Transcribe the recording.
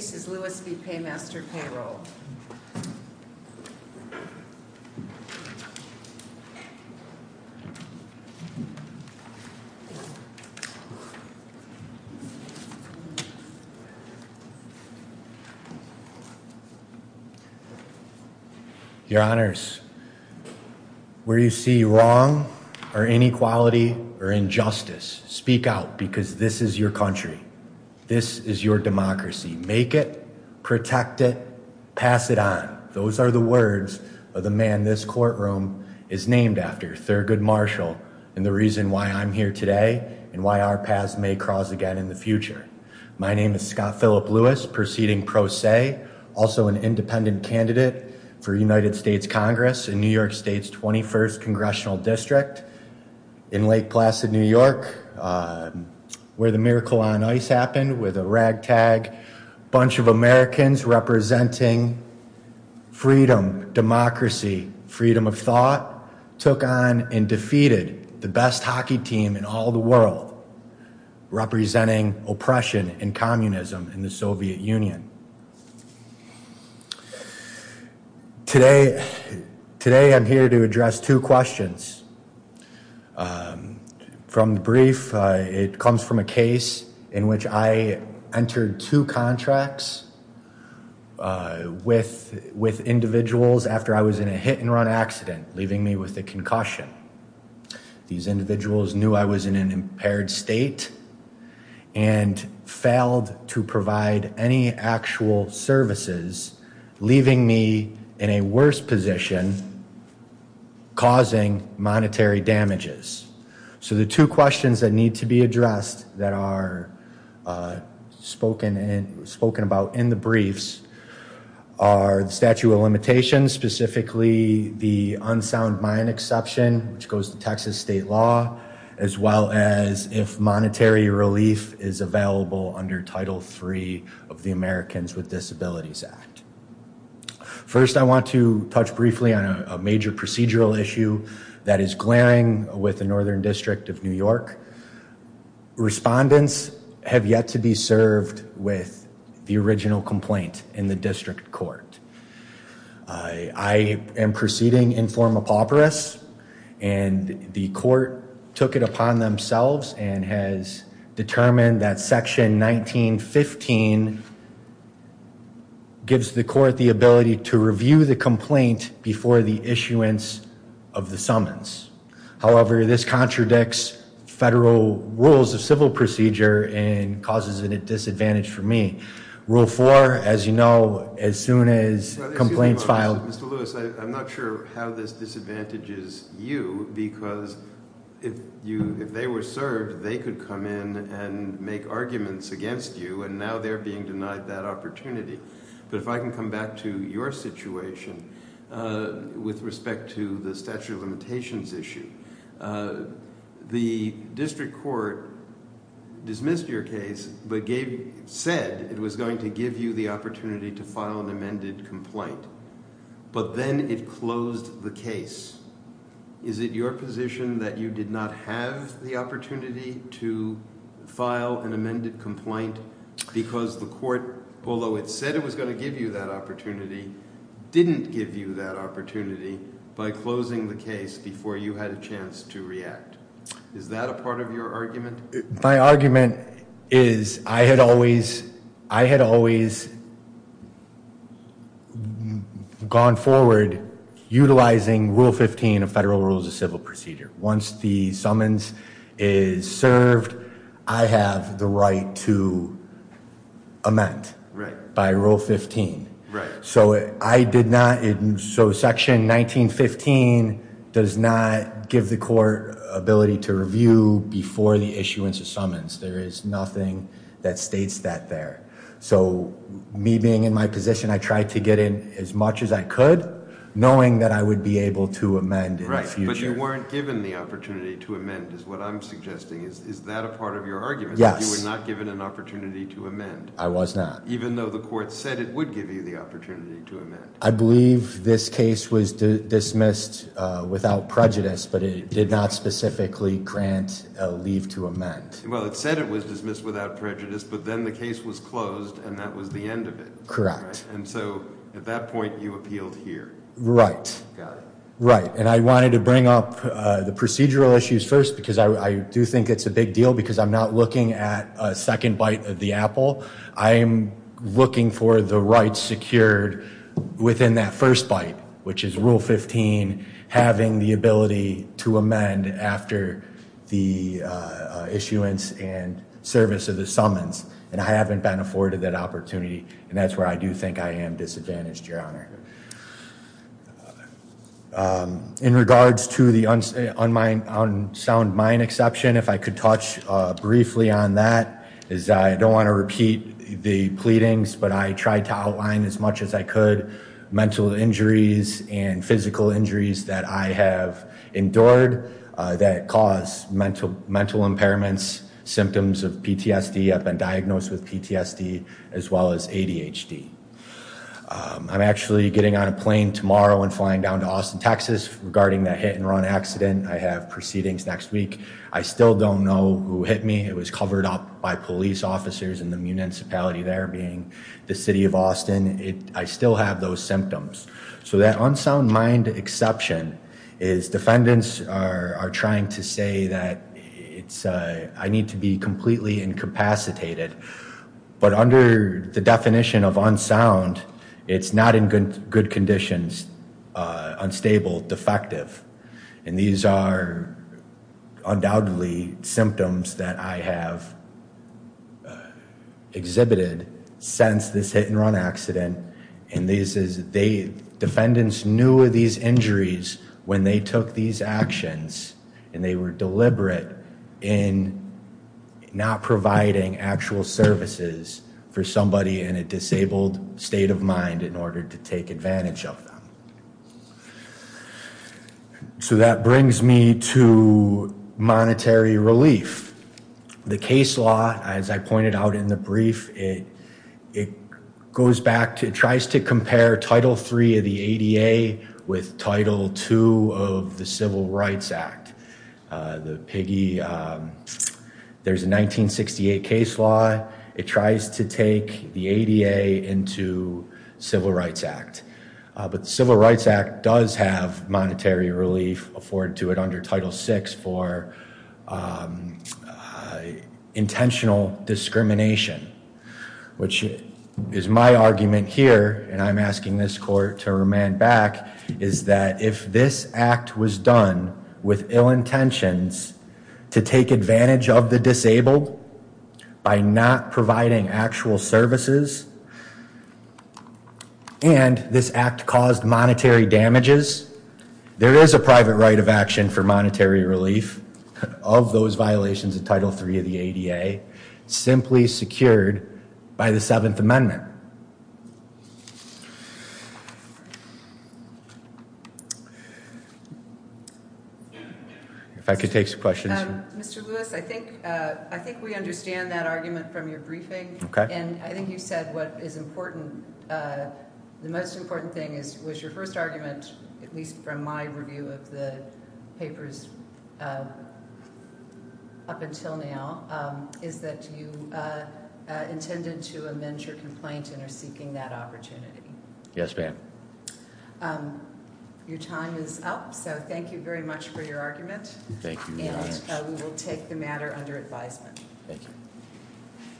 This is Louis v. Paymaster Payroll. Your Honors, where you see wrong or inequality or injustice, speak out because this is your country. This is your democracy. Make it, protect it, pass it on. Those are the words of the man this courtroom is named after, Thurgood Marshall, and the reason why I'm here today and why our paths may cross again in the future. My name is Scott Philip Lewis, proceeding pro se, also an independent candidate for United States Congress in New York State's 21st Congressional District in Lake Placid, New York, where the miracle on ice happened with a ragtag bunch of Americans representing freedom, democracy, freedom of thought, took on and defeated the best hockey team in all the world, representing oppression and communism in the Soviet Union. Today, I'm here to address two questions. From the brief, it comes from a case in which I entered two contracts with individuals after I was in a hit and run accident, leaving me with a concussion. These individuals knew I was in an impaired state and failed to provide any actual services, leaving me in a worse position, causing monetary damages. So the two questions that need to be addressed that are spoken about in the briefs are the limitations, specifically the unsound mine exception, which goes to Texas state law, as well as if monetary relief is available under Title III of the Americans with Disabilities Act. First, I want to touch briefly on a major procedural issue that is glaring with the Northern District of New York. Respondents have yet to be served with the original complaint in the district court. I am proceeding in form of pauperous, and the court took it upon themselves and has determined that Section 1915 gives the court the ability to review the complaint before the issuance of the summons. However, this contradicts federal rules of civil procedure and causes a disadvantage for me. Rule four, as you know, as soon as complaints filed- Mr. Lewis, I'm not sure how this disadvantages you, because if they were served, they could come in and make arguments against you, and now they're being denied that opportunity. If I can come back to your situation with respect to the statute of limitations issue, the district court dismissed your case, but said it was going to give you the opportunity to file an amended complaint, but then it closed the case. Is it your position that you did not have the opportunity to file an amended complaint because the court, although it said it was going to give you that opportunity, didn't give you that opportunity by closing the case before you had a chance to react? Is that a part of your argument? My argument is I had always gone forward utilizing rule 15 of federal rules of civil procedure. Once the summons is served, I have the right to amend by rule 15. So section 1915 does not give the court ability to review before the issuance of summons. There is nothing that states that there. So me being in my position, I tried to get in as much as I could, knowing that I would be able to amend in the future. You weren't given the opportunity to amend, is what I'm suggesting. Is that a part of your argument, that you were not given an opportunity to amend? I was not. Even though the court said it would give you the opportunity to amend. I believe this case was dismissed without prejudice, but it did not specifically grant a leave to amend. Well, it said it was dismissed without prejudice, but then the case was closed, and that was the end of it. Correct. And so at that point, you appealed here. Right, right. And I wanted to bring up the procedural issues first, because I do think it's a big deal, because I'm not looking at a second bite of the apple. I am looking for the rights secured within that first bite, which is rule 15, having the ability to amend after the issuance and service of the summons. And I haven't been afforded that opportunity, and that's where I do think I am disadvantaged, Your Honor. In regards to the unsound mind exception, if I could touch briefly on that, is I don't want to repeat the pleadings, but I tried to outline as much as I could, mental injuries and physical injuries that I have endured that cause mental impairments, symptoms of PTSD, I've been diagnosed with PTSD, as well as ADHD. I'm actually getting on a plane tomorrow and flying down to Austin, Texas. Regarding that hit and run accident, I have proceedings next week. I still don't know who hit me. It was covered up by police officers in the municipality there, being the city of Austin. I still have those symptoms. So that unsound mind exception is defendants are trying to say that I need to be completely incapacitated. But under the definition of unsound, it's not in good conditions, unstable, defective. And these are undoubtedly symptoms that I have exhibited since this hit and run accident. And this is, they, defendants knew of these injuries when they took these actions, and they were deliberate in not providing actual services for somebody in a disabled state of mind in order to take advantage of them. So that brings me to monetary relief. The case law, as I pointed out in the brief, it goes back to, it tries to compare Title III of the ADA with Title II of the Civil Rights Act. The piggy, there's a 1968 case law. It tries to take the ADA into Civil Rights Act. But the Civil Rights Act does have monetary relief afforded to it under Title VI for intentional discrimination, which is my argument here. And I'm asking this court to remand back, is that if this act was done with ill intentions to take advantage of the disabled by not providing actual services, and this act caused monetary damages, there is a private right of action for monetary relief of those violations of Title III of the ADA, simply secured by the Seventh Amendment. If I could take some questions. Mr. Lewis, I think we understand that argument from your briefing. Okay. And I think you said what is important, the most important thing was your first argument, at least from my review of the papers up until now, is that you intended to amend your complaint and are seeking that opportunity. Yes, ma'am. Your time is up, so thank you very much for your argument. Thank you very much. And we will take the matter under advisement. Thank you.